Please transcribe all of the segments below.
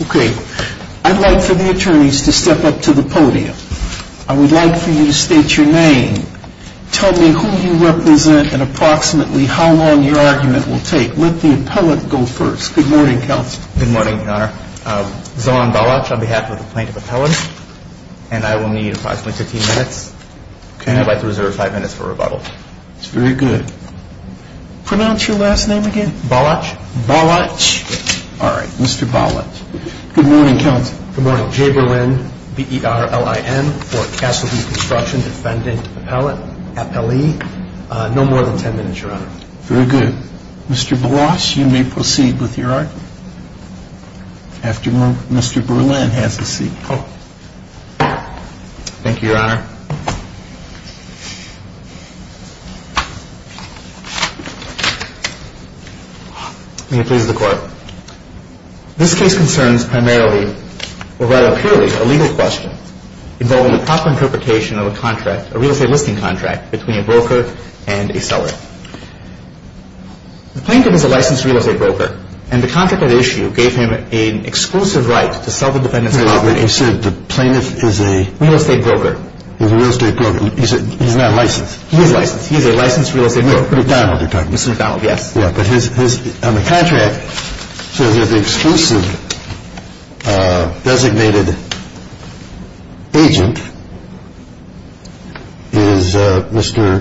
Okay, I'd like for the attorneys to step up to the podium. I would like for you to state your name, tell me who you represent, and approximately how long your argument will take. Let the appellate go first. Good morning, Counselor. Good morning, Your Honor. Zohan Baloch on behalf of the Plaintiff Appellate, and I will need approximately 15 minutes. I'd like to reserve 5 minutes for rebuttal. That's very good. Pronounce your last name again. Baloch. Baloch. All right, Mr. Baloch. Good morning, Counselor. Good morning. Jay Berlin, B-E-R-L-I-N, for Castleview Construction, Defendant Appellate. No more than 10 minutes, Your Honor. Very good. Mr. Baloch, you may proceed with your argument. After Mr. Berlin has his seat. Thank you, Your Honor. May it please the Court. This case concerns primarily, or rather purely, a legal question involving the proper interpretation of a contract, a real estate listing contract, between a broker and a seller. The plaintiff is a licensed real estate broker, and the contract at issue gave him an exclusive right to sell the dependency property. You said the plaintiff is a... He's a real estate broker. He's not licensed. He is licensed. He is a licensed real estate broker. No, McDonald, you're talking about. Mr. McDonald, yes. Yeah, but on the contract, it says that the exclusive designated agent is Mr.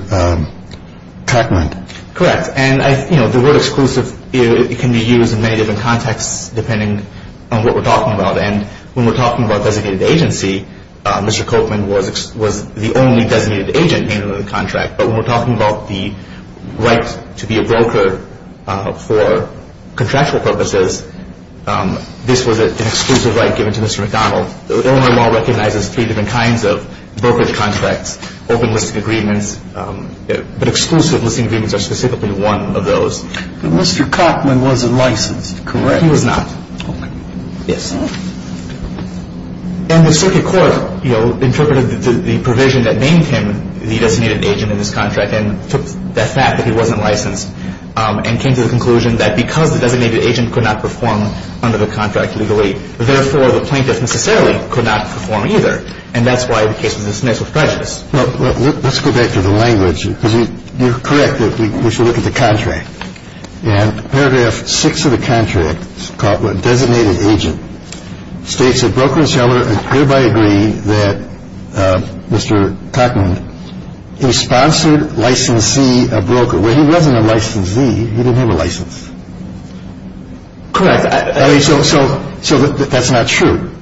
Kochman. Correct. And, you know, the word exclusive can be used in many different contexts, depending on what we're talking about. And when we're talking about designated agency, Mr. Kochman was the only designated agent in the contract. But when we're talking about the right to be a broker for contractual purposes, this was an exclusive right given to Mr. McDonald. Illinois law recognizes three different kinds of brokerage contracts, open listing agreements, but exclusive listing agreements are specifically one of those. Mr. Kochman wasn't licensed, correct? He was not. Okay. Yes. And the circuit court, you know, interpreted the provision that named him the designated agent in this contract and took that fact that he wasn't licensed and came to the conclusion that because the designated agent could not perform under the contract legally, therefore the plaintiff necessarily could not perform either. And that's why the case was dismissed with prejudice. Well, let's go back to the language, because you're correct that we should look at the contract. Paragraph six of the contract designated agent states that broker seller and thereby agree that Mr. Tuckman is sponsored licensee, a broker where he wasn't a licensee. He didn't have a license. Correct. So so so that that's not true.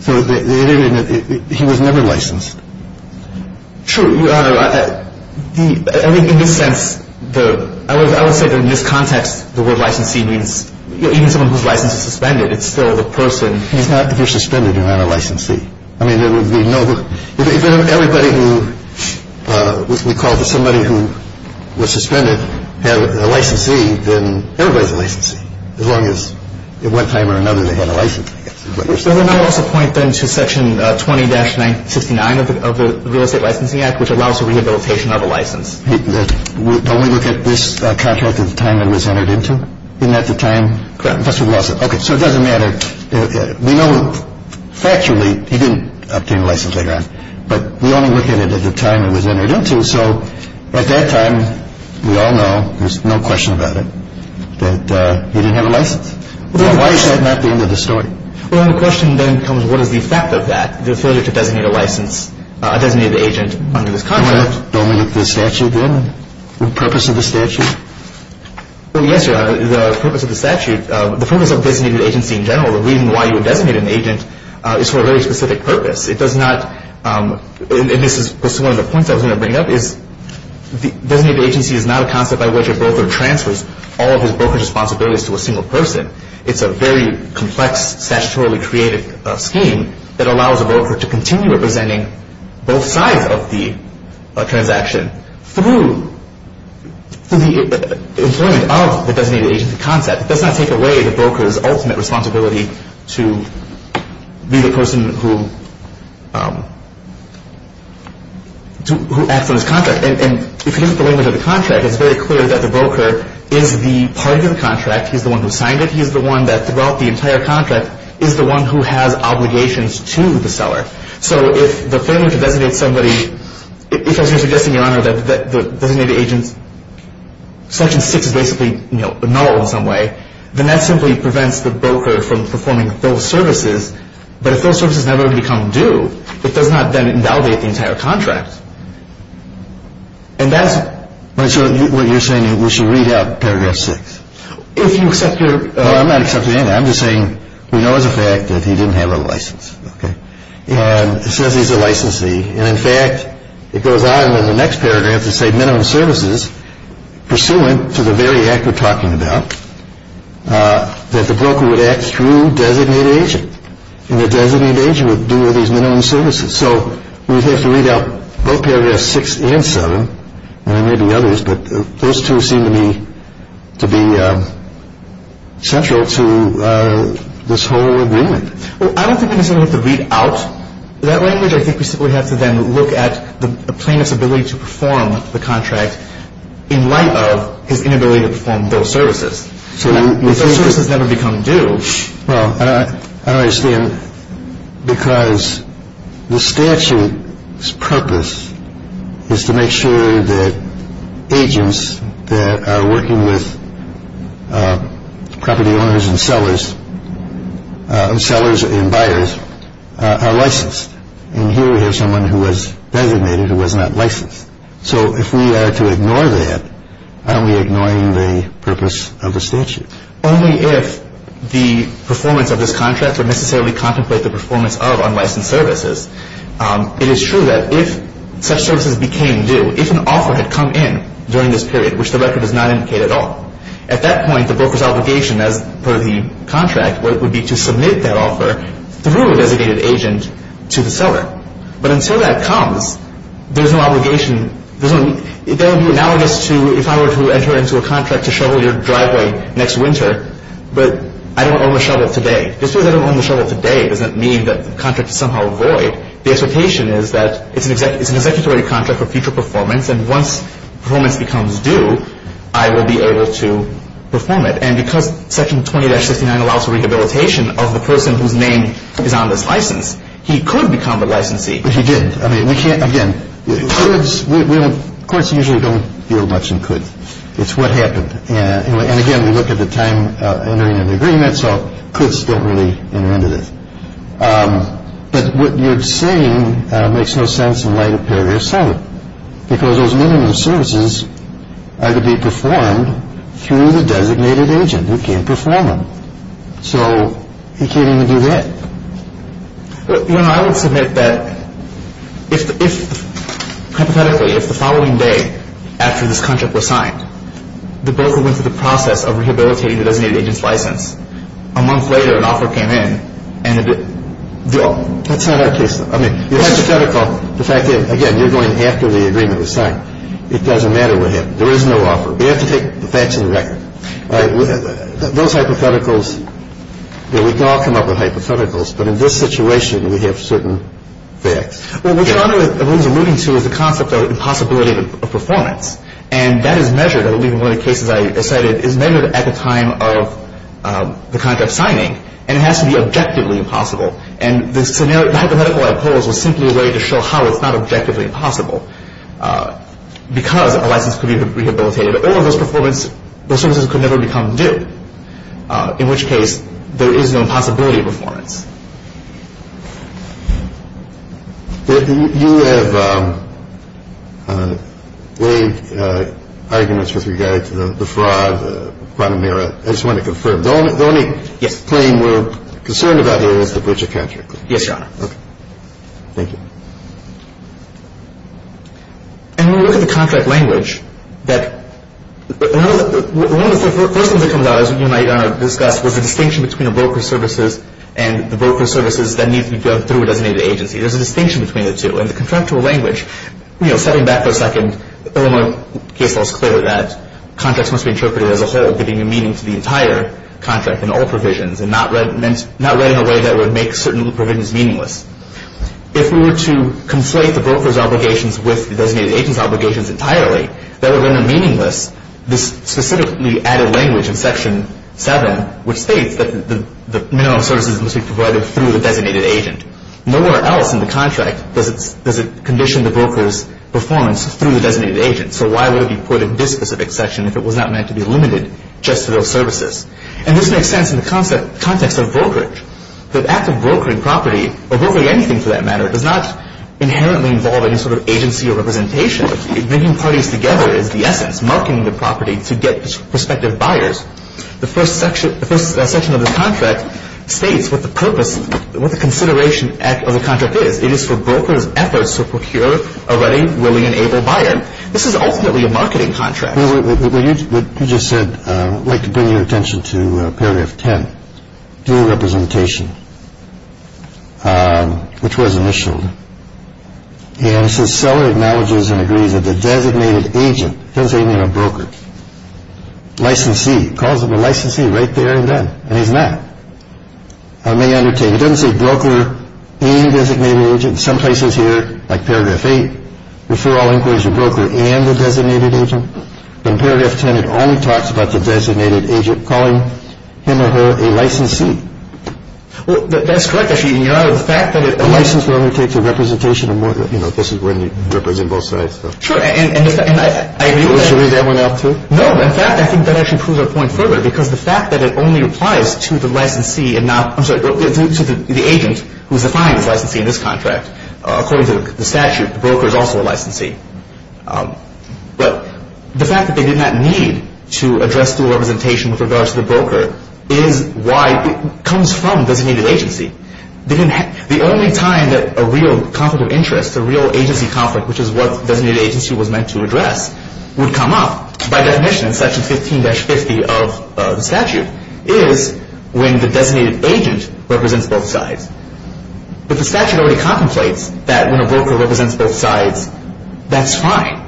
So he was never licensed. True. I think in this sense, I would say that in this context, the word licensee means even someone whose license is suspended. It's still the person. It's not if you're suspended, you're not a licensee. I mean, there would be nobody. Everybody who we call to somebody who was suspended had a licensee. Then everybody's a licensee as long as at one time or another they had a license. I also point them to Section 20-9 69 of the Real Estate Licensing Act, which allows the rehabilitation of a license. We don't look at this contract at the time it was entered into. And at the time. OK, so it doesn't matter. We know factually he didn't obtain a license. But we only look at it at the time it was entered into. So at that time, we all know there's no question about it, that he didn't have a license. Why is that not the end of the story? Well, the question then becomes what is the effect of that? The failure to designate a license, a designated agent under this contract. Don't we look at the statute then? The purpose of the statute? Well, yes, Your Honor. The purpose of the statute, the purpose of a designated agency in general, the reason why you would designate an agent is for a very specific purpose. It does not, and this is one of the points I was going to bring up, is the designated agency is not a concept by which a broker transfers all of his brokerage responsibilities to a single person. It's a very complex, statutorily created scheme that allows a broker to continue representing both sides of the transaction through the employment of the designated agency concept. It does not take away the broker's ultimate responsibility to be the person who acts on this contract. And if you look at the language of the contract, it's very clear that the broker is the party to the contract. He's the one who signed it. He's the one that throughout the entire contract is the one who has obligations to the seller. So if the failure to designate somebody, if, as you're suggesting, Your Honor, that the designated agent's Selection 6 is basically null in some way, then that simply prevents the broker from performing those services. But if those services never become due, it does not then invalidate the entire contract. And that's what you're saying we should read out paragraph 6. If you accept your... No, I'm not accepting anything. I'm just saying we know as a fact that he didn't have a license. And it says he's a licensee. And in fact, it goes on in the next paragraph to say minimum services, pursuant to the very act we're talking about, that the broker would act through designated agent. And the designated agent would do these minimum services. So we'd have to read out both paragraphs 6 and 7 and maybe others. But those two seem to me to be central to this whole agreement. Well, I don't think we necessarily have to read out that language. I think we simply have to then look at the plaintiff's ability to perform the contract in light of his inability to perform those services. If those services never become due... Well, I don't understand. Because the statute's purpose is to make sure that agents that are working with property owners and sellers and buyers are licensed. And here we have someone who was designated who was not licensed. So if we are to ignore that, aren't we ignoring the purpose of the statute? Only if the performance of this contract would necessarily contemplate the performance of unlicensed services. It is true that if such services became due, if an offer had come in during this period, which the record does not indicate at all, at that point the broker's obligation as per the contract would be to submit that offer through a designated agent to the seller. But until that comes, there's no obligation. That would be analogous to if I were to enter into a contract to shovel your driveway next winter, but I don't own the shovel today. Just because I don't own the shovel today doesn't mean that the contract is somehow void. The expectation is that it's an executory contract for future performance, and once performance becomes due, I will be able to perform it. And because Section 20-69 allows for rehabilitation of the person whose name is on this license, he could become a licensee. But he didn't. I mean, we can't, again, courts usually don't deal much in coulds. It's what happened. And again, we look at the time entering an agreement, so coulds don't really enter into this. But what you're saying makes no sense in light of paragraph 7, because those minimum services are to be performed through the designated agent who can perform them. So he can't even do that. You know, I would submit that if, hypothetically, if the following day after this contract was signed, the broker went through the process of rehabilitating the designated agent's license, a month later an offer came in and it, that's not our case. I mean, the hypothetical, the fact that, again, you're going after the agreement was signed, it doesn't matter what happened. There is no offer. We have to take the facts to the record. Those hypotheticals, we can all come up with hypotheticals. But in this situation, we have certain facts. Well, what John was alluding to is the concept of impossibility of performance. And that is measured, I believe in one of the cases I cited, is measured at the time of the contract signing. And it has to be objectively impossible. And the hypothetical I posed was simply a way to show how it's not objectively impossible, because a license could be rehabilitated or those services could never become due, in which case there is no impossibility of performance. You have laid arguments with regard to the fraud, the quantum error. I just wanted to confirm. The only claim we're concerned about here is the breach of contract. Yes, Your Honor. Okay. Thank you. And when we look at the contract language, one of the first things that comes out, as you and I discussed, was the distinction between the broker services and the broker services that need to be done through a designated agency. There's a distinction between the two. In the contractual language, setting back for a second, Illinois case law is clear that contracts must be interpreted as a whole, giving meaning to the entire contract and all provisions, and not read in a way that would make certain provisions meaningless. If we were to conflate the broker's obligations with the designated agent's obligations entirely, that would render meaningless this specifically added language in Section 7, which states that the minimum services must be provided through the designated agent. Nowhere else in the contract does it condition the broker's performance through the designated agent. So why would it be put in this specific section if it was not meant to be limited just to those services? And this makes sense in the context of brokerage. The act of brokering property, or brokering anything for that matter, does not inherently involve any sort of agency or representation. Bringing parties together is the essence, marketing the property to get prospective buyers. The first section of the contract states what the purpose, what the consideration of the contract is. It is for brokers' efforts to procure a ready, willing, and able buyer. This is ultimately a marketing contract. What you just said, I'd like to bring your attention to Paragraph 10. Due representation, which was initialed. And it says seller acknowledges and agrees that the designated agent, doesn't even mean a broker, licensee, calls him a licensee right there and then. And he's not. I may undertake, it doesn't say broker and designated agent. In some places here, like Paragraph 8, referral inquiries are broker and a designated agent. But in Paragraph 10, it only talks about the designated agent calling him or her a licensee. Well, that's correct. The fact that a licensed broker takes a representation, this is when you represent both sides. Sure. Should we read that one out too? No. In fact, I think that actually proves our point further because the fact that it only applies to the licensee and not, I'm sorry, to the agent who's defined as licensee in this contract. According to the statute, the broker is also a licensee. But the fact that they did not need to address dual representation with regards to the broker is why it comes from designated agency. The only time that a real conflict of interest, a real agency conflict, which is what designated agency was meant to address, would come up, by definition, in Section 15-50 of the statute, is when the designated agent represents both sides. But the statute already contemplates that when a broker represents both sides, that's fine.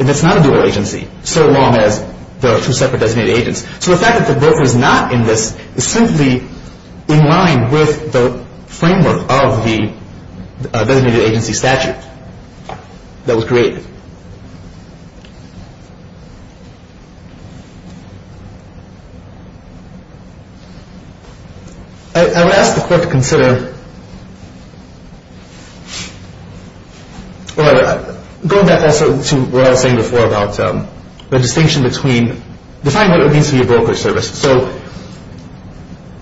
And it's not a dual agency, so long as there are two separate designated agents. So the fact that the broker is not in this is simply in line with the framework of the designated agency statute that was created. I would ask the court to consider, or go back also to what I was saying before about the distinction between, define what it means to be a broker service. So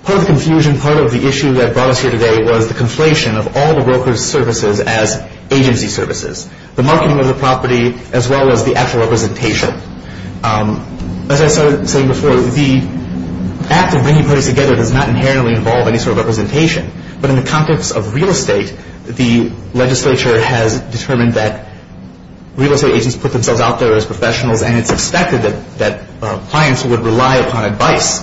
part of the confusion, part of the issue that brought us here today was the conflation of all the broker services as agency services. The marketing of the property, as well as the actual representation. As I was saying before, the act of bringing parties together does not inherently involve any sort of representation. But in the context of real estate, the legislature has determined that real estate agents put themselves out there as professionals, and it's expected that clients would rely upon advice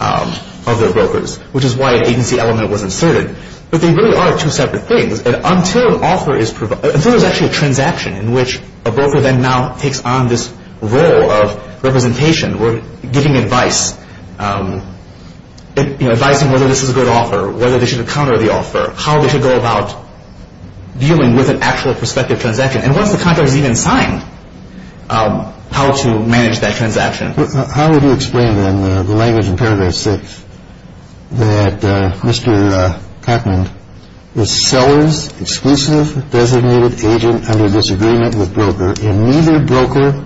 of their brokers, which is why an agency element was inserted. But they really are two separate things. And until an offer is provided, until there's actually a transaction in which a broker then now takes on this role of representation, or giving advice, advising whether this is a good offer, whether they should encounter the offer, how they should go about dealing with an actual prospective transaction, and once the contract is even signed, how to manage that transaction. How would you explain, then, the language in Paragraph 6, that Mr. Cotman was seller's exclusive designated agent under disagreement with broker, and neither broker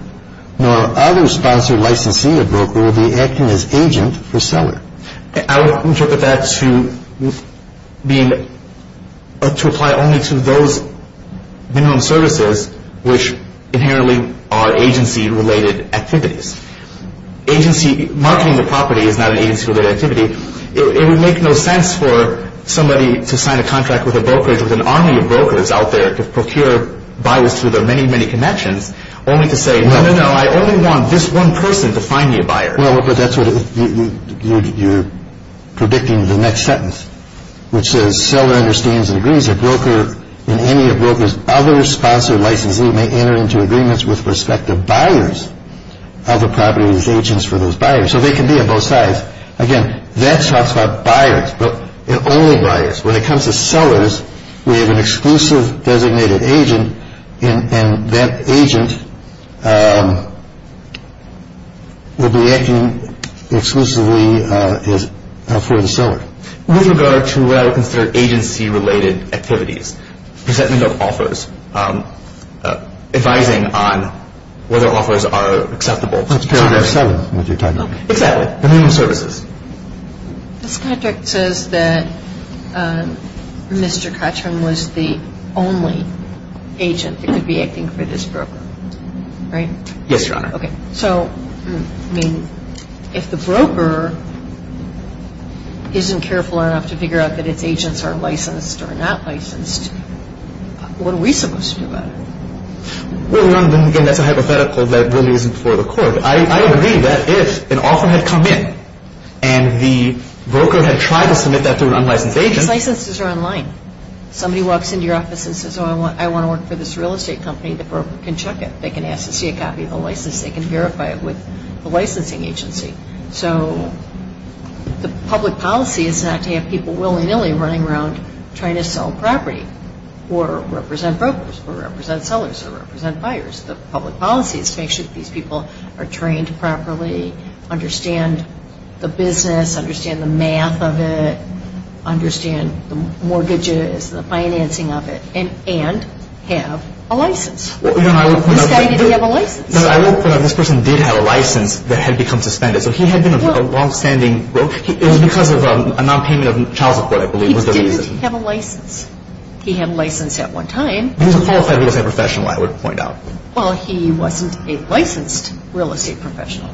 nor other sponsored licensee of broker would be acting as agent for seller? I would interpret that to apply only to those minimum services which inherently are agency-related activities. Marketing the property is not an agency-related activity. It would make no sense for somebody to sign a contract with a brokerage with an army of brokers out there to procure buyers through their many, many connections, only to say, no, no, no, I only want this one person to find me a buyer. Well, but that's what you're predicting in the next sentence, which says, seller understands and agrees that broker and any of broker's other sponsored licensee may enter into agreements with respective buyers of the property as agents for those buyers. So they can be of both sides. Again, that talks about buyers, but only buyers. When it comes to sellers, we have an exclusive designated agent, and that agent would be acting exclusively for the seller. With regard to what I would consider agency-related activities, presentment of offers, advising on whether offers are acceptable. So you're selling what you're talking about. Exactly, minimum services. This contract says that Mr. Kottroom was the only agent that could be acting for this broker, right? Yes, Your Honor. Okay. So, I mean, if the broker isn't careful enough to figure out that its agents are licensed or not licensed, what are we supposed to do about it? Well, again, that's a hypothetical that really isn't before the court. I agree that if an offer had come in and the broker had tried to submit that to an unlicensed agent. These licenses are online. Somebody walks into your office and says, oh, I want to work for this real estate company, the broker can check it. They can ask to see a copy of the license. They can verify it with the licensing agency. So the public policy is not to have people willy-nilly running around trying to sell property or represent brokers or represent sellers or represent buyers. The public policy is to make sure that these people are trained properly, understand the business, understand the math of it, understand the mortgages, the financing of it, and have a license. Well, Your Honor, I would point out that this person did have a license that had become suspended. So he had been a longstanding broker. It was because of a nonpayment of child support, I believe, was the reason. He didn't have a license. He had a license at one time. He wasn't qualified as a real estate professional, I would point out. Well, he wasn't a licensed real estate professional.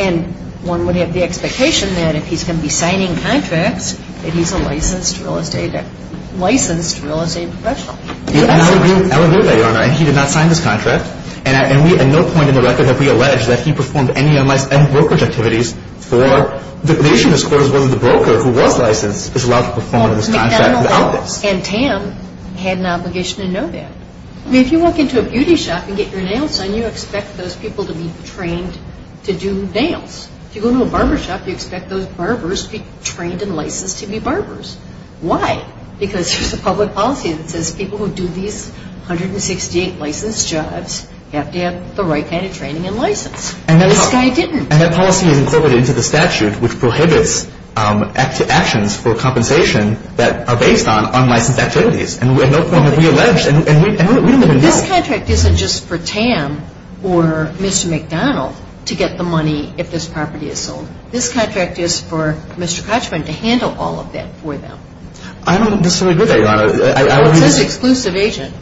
And one would have the expectation that if he's going to be signing contracts, that he's a licensed real estate professional. I would agree with that, Your Honor. And he did not sign this contract. And at no point in the record have we alleged that he performed any brokerage activities for the nation. As far as whether the broker who was licensed is allowed to perform this contract without this. And Tam had an obligation to know that. I mean, if you walk into a beauty shop and get your nails done, you expect those people to be trained to do nails. If you go to a barber shop, you expect those barbers to be trained and licensed to be barbers. Why? Because there's a public policy that says people who do these 168 licensed jobs have to have the right kind of training and license. And this guy didn't. And that policy is incorporated into the statute, which prohibits actions for compensation that are based on unlicensed activities. And at no point have we alleged. And we don't even know. But this contract isn't just for Tam or Mr. McDonald to get the money if this property is sold. This contract is for Mr. Kochman to handle all of that for them. I don't necessarily agree with that, Your Honor. Well, it says exclusive agent.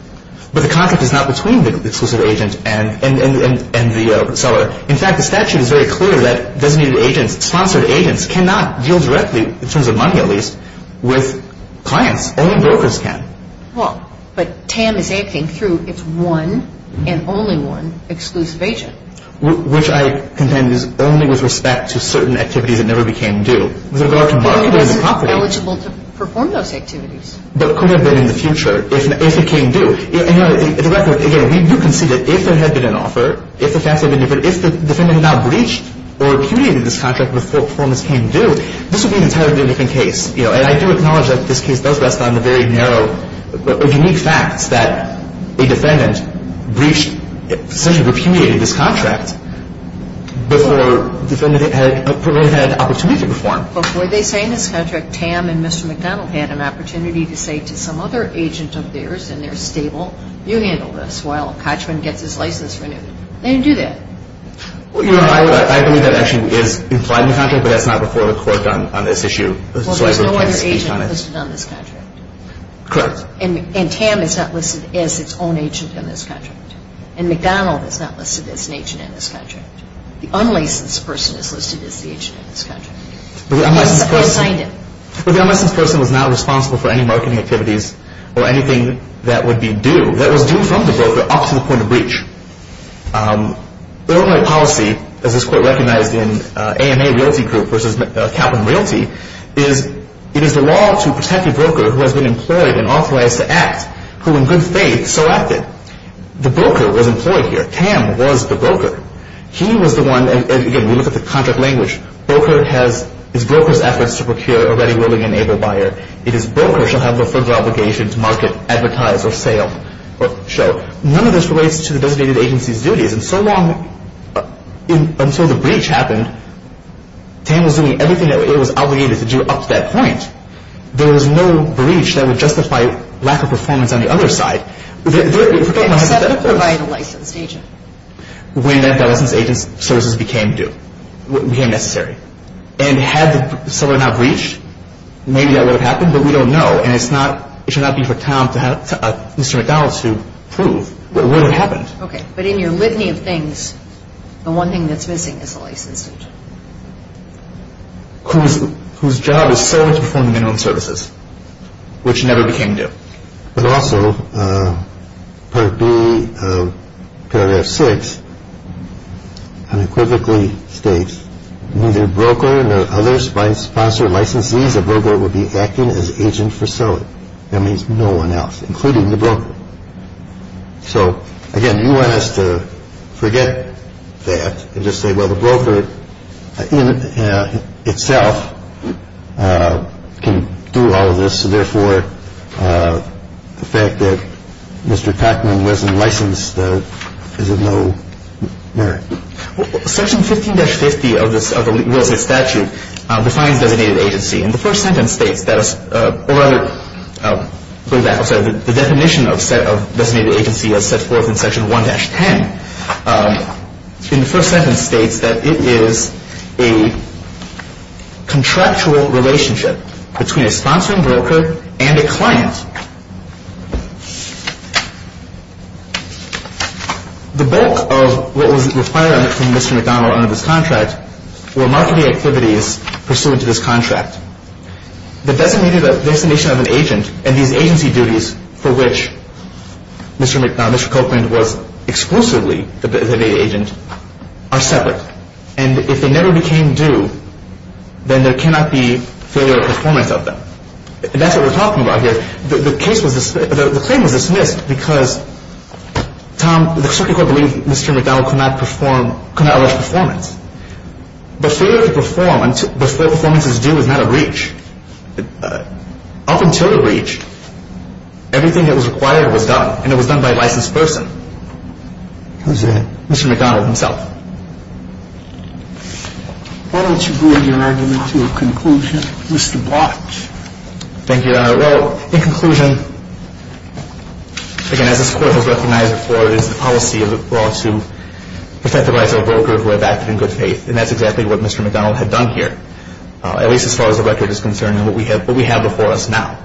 But the contract is not between the exclusive agent and the seller. In fact, the statute is very clear that designated agents, sponsored agents, cannot deal directly, in terms of money at least, with clients. Only brokers can. Well, but Tam is acting through its one and only one exclusive agent. Which I contend is only with respect to certain activities that never became due. With regard to marketing the property. But he wasn't eligible to perform those activities. But could have been in the future if it came due. Again, we do concede that if there had been an offer, if the defendant had not breached or repudiated this contract before performance came due, this would be an entirely different case. And I do acknowledge that this case does rest on the very narrow or unique facts that a defendant breached, essentially repudiated this contract before the defendant had an opportunity to perform. But were they saying this contract, Tam and Mr. McDonald had an opportunity to say to some other agent of theirs, and they're stable, you handle this while Cotchman gets his license renewed. They didn't do that. I believe that actually is implied in the contract, but that's not before the court on this issue. Well, there's no other agent listed on this contract. Correct. And Tam is not listed as its own agent in this contract. And McDonald is not listed as an agent in this contract. The unlicensed person is listed as the agent in this contract. But the unlicensed person was not responsible for any marketing activities or anything that would be due that was due from the broker up to the point of breach. The only policy, as this court recognized in AMA Realty Group versus Kaplan Realty, is it is the law to protect a broker who has been employed and authorized to act, who in good faith so acted. The broker was employed here. Tam was the broker. He was the one, and, again, we look at the contract language. Broker has his broker's efforts to procure a ready, willing, and able buyer. It is broker shall have the firm's obligation to market, advertise, or sell. None of this relates to the designated agency's duties. And so long until the breach happened, Tam was doing everything that it was obligated to do up to that point. There was no breach that would justify lack of performance on the other side. Except to provide a licensed agent. When that licensed agent's services became necessary. And had the seller not breached, maybe that would have happened, but we don't know. And it should not be for Mr. McDonald's to prove what happened. Okay. But in your litany of things, the one thing that's missing is a licensed agent. Whose job is solely to perform minimum services, which never became due. But also, Part B of Paragraph 6 unequivocally states, neither broker nor other sponsored licensees or broker will be acting as agent for selling. That means no one else, including the broker. So, again, you want us to forget that and just say, well, the broker itself can do all of this. So, therefore, the fact that Mr. Tackman wasn't licensed is of no merit. Section 15-50 of the real estate statute defines designated agency. And the first sentence states that, or rather, the definition of designated agency is set forth in Section 1-10. And the first sentence states that it is a contractual relationship between a sponsoring broker and a client. The bulk of what was required from Mr. McDonald under this contract were marketing activities pursuant to this contract. The designation of an agent and these agency duties for which Mr. Cochran was exclusively the designated agent are separate. And if they never became due, then there cannot be failure of performance of them. And that's what we're talking about here. The claim was dismissed because the circuit court believed Mr. McDonald could not allow performance. But failure to perform before performance is due is not a breach. Up until the breach, everything that was required was done, and it was done by a licensed person. Who's that? Mr. McDonald himself. Why don't you bring your argument to a conclusion, Mr. Block? Thank you, Your Honor. Well, in conclusion, again, as this Court has recognized before, it is the policy of the law to protect the rights of a broker who have acted in good faith. And that's exactly what Mr. McDonald had done here, at least as far as the record is concerned and what we have before us now.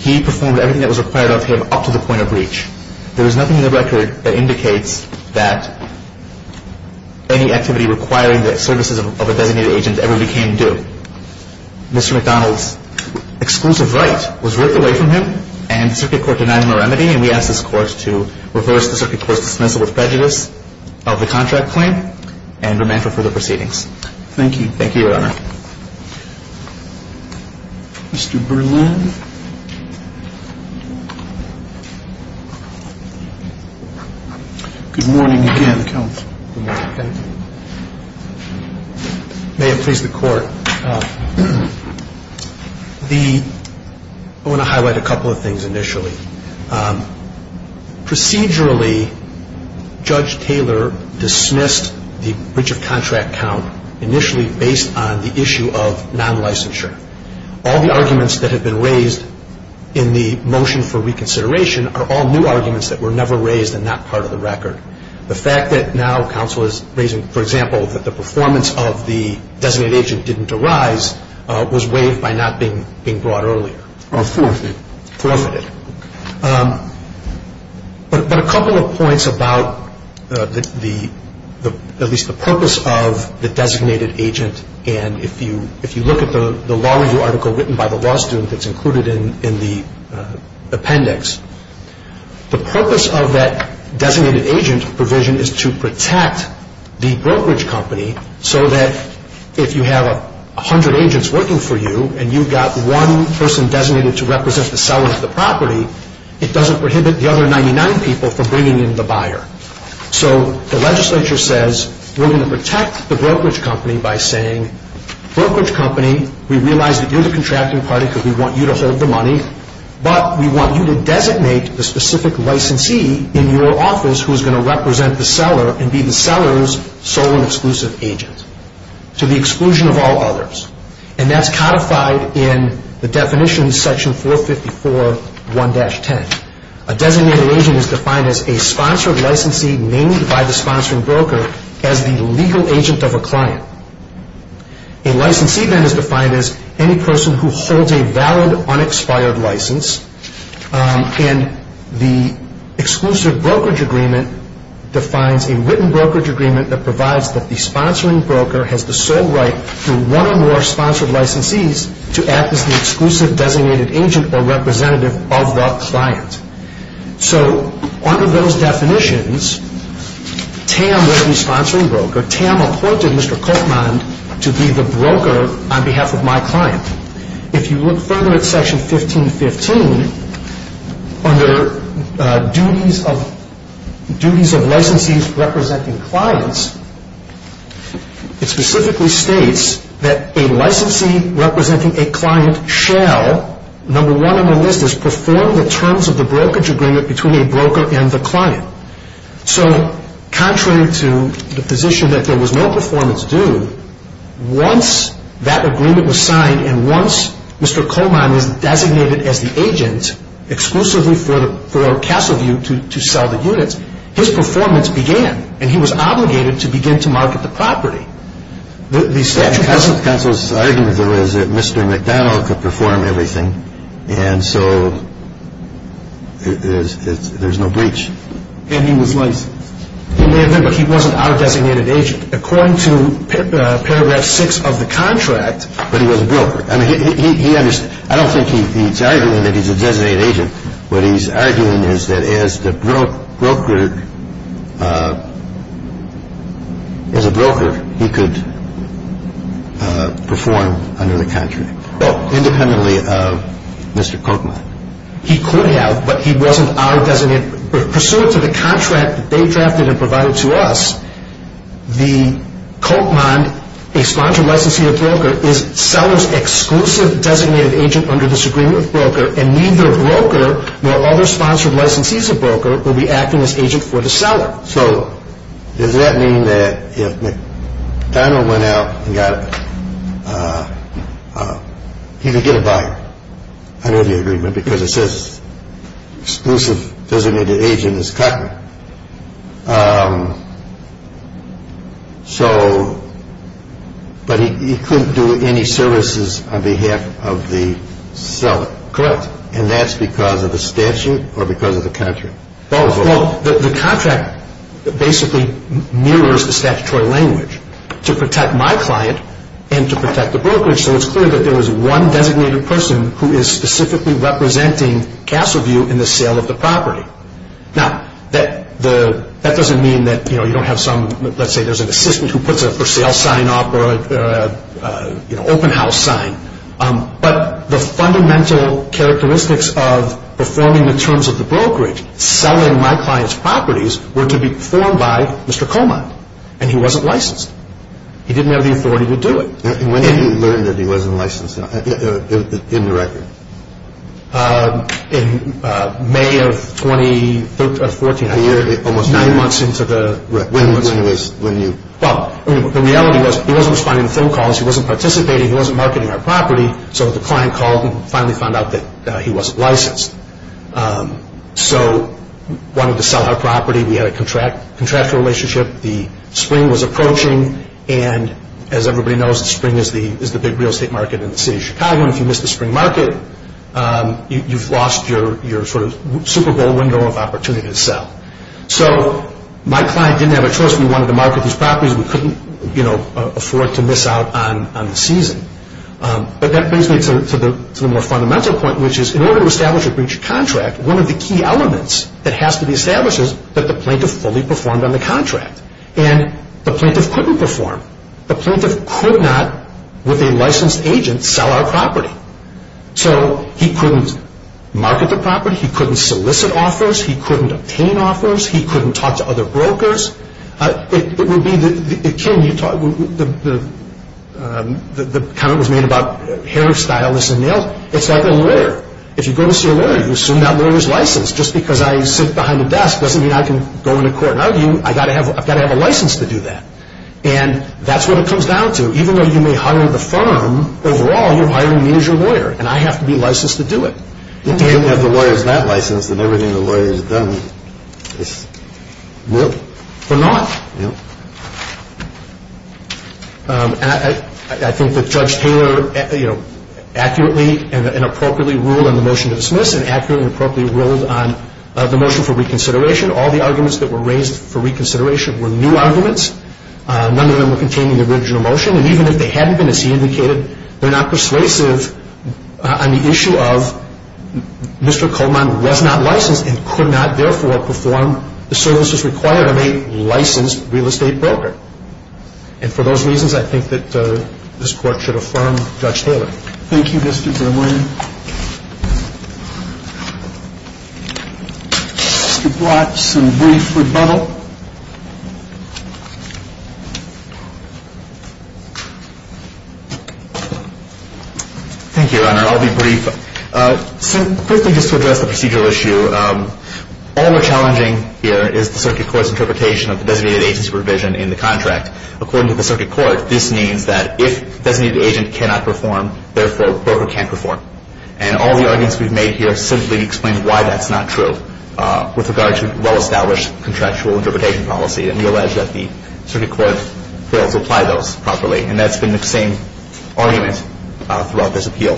He performed everything that was required of him up to the point of breach. There is nothing in the record that indicates that any activity requiring the services of a designated agent ever became due. Mr. McDonald's exclusive right was ripped away from him, and the circuit court denied him a remedy. And we ask this Court to reverse the circuit court's dismissal with prejudice of the contract claim and remain for further proceedings. Thank you. Thank you, Your Honor. Mr. Berlin. Good morning again, Counsel. Good morning. Thank you. May it please the Court. I want to highlight a couple of things initially. Procedurally, Judge Taylor dismissed the breach of contract count initially based on the issue of non-licensure. All the arguments that have been raised in the motion for reconsideration are all new arguments that were never raised in that part of the record. The fact that now counsel is raising, for example, that the performance of the designated agent didn't arise was waived by not being brought earlier. Or forfeited. Forfeited. But a couple of points about at least the purpose of the designated agent. And if you look at the law review article written by the law student that's included in the appendix, the purpose of that designated agent provision is to protect the brokerage company so that if you have 100 agents working for you and you've got one person designated to represent the seller of the property, it doesn't prohibit the other 99 people from bringing in the buyer. So the legislature says we're going to protect the brokerage company by saying, brokerage company, we realize that you're the contracting party because we want you to hold the money, but we want you to designate the specific licensee in your office who's going to represent the seller and be the seller's sole and exclusive agent to the exclusion of all others. And that's codified in the definition in section 454.1-10. A designated agent is defined as a sponsored licensee named by the sponsoring broker as the legal agent of a client. A licensee then is defined as any person who holds a valid unexpired license. And the exclusive brokerage agreement defines a written brokerage agreement that provides that the sponsoring broker has the sole right through one or more sponsored licensees to act as the exclusive designated agent or representative of the client. So under those definitions, TAM will be sponsoring broker. TAM appointed Mr. Koopman to be the broker on behalf of my client. If you look further at section 1515, under duties of licensees representing clients, it specifically states that a licensee representing a client shall, number one on the list, is perform the terms of the brokerage agreement between a broker and the client. So contrary to the position that there was no performance due, once that agreement was signed and once Mr. Koopman was designated as the agent exclusively for Castleview to sell the units, his performance began. And he was obligated to begin to market the property. The statute doesn't... Counsel's argument was that Mr. McDonald could perform everything, and so there's no breach. And he was licensed. He may have been, but he wasn't our designated agent. According to paragraph six of the contract... But he was a broker. I mean, he understood. I don't think he's arguing that he's a designated agent. What he's arguing is that as the broker, as a broker, he could perform under the contract, independently of Mr. Koopman. He could have, but he wasn't our designated... Pursuant to the contract that they drafted and provided to us, the Koopman, a sponsored licensee or broker, is seller's exclusive designated agent under this agreement with broker, and neither broker nor other sponsored licensees or broker will be acting as agent for the seller. So does that mean that if McDonald went out and got... He could get a buyer under the agreement because it says exclusive designated agent is Koopman. But he couldn't do any services on behalf of the seller. Correct. And that's because of the statute or because of the contract? Both. The contract basically mirrors the statutory language to protect my client and to protect the broker. So it's clear that there is one designated person who is specifically representing Castleview in the sale of the property. Now, that doesn't mean that you don't have some... Let's say there's an assistant who puts a for sale sign up or an open house sign. But the fundamental characteristics of performing the terms of the brokerage, selling my client's properties, were to be performed by Mr. Koopman, and he wasn't licensed. He didn't have the authority to do it. When did you learn that he wasn't licensed in the record? In May of 2014. Almost nine months into the record. When was... Well, the reality was he wasn't responding to phone calls. He wasn't participating. He wasn't marketing our property. So the client called and finally found out that he wasn't licensed. So wanted to sell our property. We had a contractual relationship. The spring was approaching. And as everybody knows, spring is the big real estate market in the city of Chicago. And if you miss the spring market, you've lost your sort of Super Bowl window of opportunity to sell. So my client didn't have a choice. We wanted to market these properties. We couldn't afford to miss out on the season. But that brings me to the more fundamental point, which is in order to establish a breach of contract, one of the key elements that has to be established is that the plaintiff fully performed on the contract. And the plaintiff couldn't perform. The plaintiff could not, with a licensed agent, sell our property. So he couldn't market the property. He couldn't solicit offers. He couldn't obtain offers. He couldn't talk to other brokers. It would be the... Ken, you talked... The comment was made about hair stylists and nails. It's like a lawyer. If you go to see a lawyer, you assume that lawyer's licensed. Just because I sit behind a desk doesn't mean I can go into court and argue. I've got to have a license to do that. And that's what it comes down to. Even though you may hire the firm, overall, you're hiring me as your lawyer, and I have to be licensed to do it. If the lawyer's not licensed and everything the lawyer's done is... No. They're not. No. I think that Judge Taylor accurately and appropriately ruled on the motion to dismiss and accurately and appropriately ruled on the motion for reconsideration. All the arguments that were raised for reconsideration were new arguments. None of them were contained in the original motion. And even if they hadn't been, as he indicated, they're not persuasive on the issue of Mr. Coleman was not licensed and could not, therefore, perform the services required of a licensed real estate broker. And for those reasons, I think that this Court should affirm Judge Taylor. Thank you, Mr. Brimley. Thank you, Your Honor. We've got some brief rebuttal. Thank you, Your Honor. I'll be brief. So, quickly, just to address the procedural issue, all we're challenging here is the circuit court's interpretation of the designated agency provision in the contract. According to the circuit court, this means that if designated agent cannot perform, therefore, broker can't perform. And all the arguments we've made here simply explain why that's not true with regard to well-established contractual interpretation policy and the alleged that the circuit court fails to apply those properly. And that's been the same argument throughout this appeal.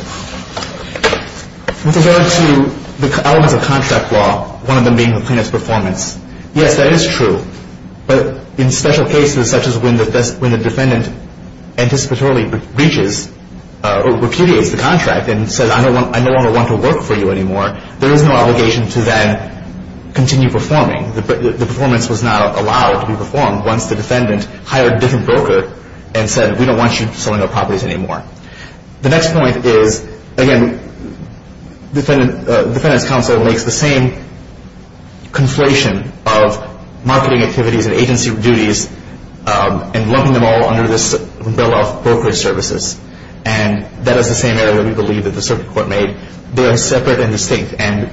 With regard to the elements of contract law, one of them being the plaintiff's performance, yes, that is true. But in special cases such as when the defendant anticipatorily breaches or repudiates the contract and says, I no longer want to work for you anymore, there is no obligation to then continue performing. The performance was not allowed to be performed once the defendant hired a different broker and said, we don't want you sowing the properties anymore. The next point is, again, the defendant's counsel makes the same conflation of marketing activities and agency duties and lumping them all under this bill of brokerage services. And that is the same argument we believe that the circuit court made. They are separate and distinct, and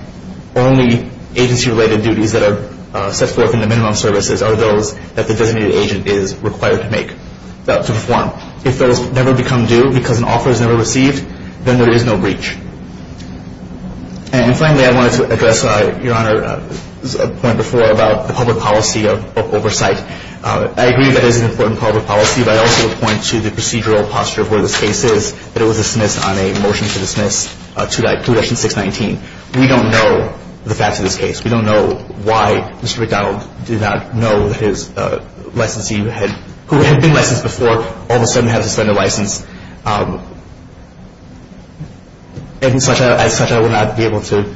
only agency-related duties that are set forth in the minimum services are those that the designated agent is required to make, to perform. And finally, I wanted to address Your Honor's point before about the public policy of oversight. I agree that it is an important part of the policy, but I also would point to the procedural posture of where this case is, that it was dismissed on a motion to dismiss 2-619. We don't know the facts of this case. We don't know why Mr. McDonald did not know that his licensee who had been licensed before all of a sudden had to resign. All of a sudden has to spend a license. As such, I will not be able to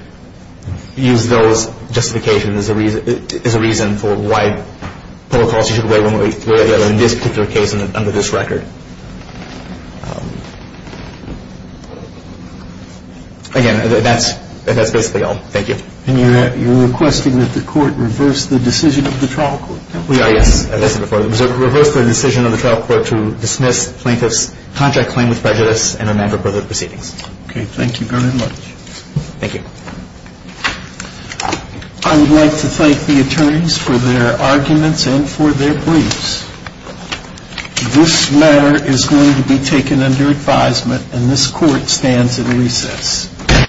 use those justifications as a reason for why public policy should weigh one way or the other in this particular case under this record. Again, that's basically all. Thank you. And you're requesting that the court reverse the decision of the trial court. We are, yes. Reverse the decision of the trial court to dismiss plaintiff's contract claim with prejudice and amend the proceedings. Okay. Thank you very much. Thank you. I would like to thank the attorneys for their arguments and for their briefs. This matter is going to be taken under advisement, and this court stands in recess.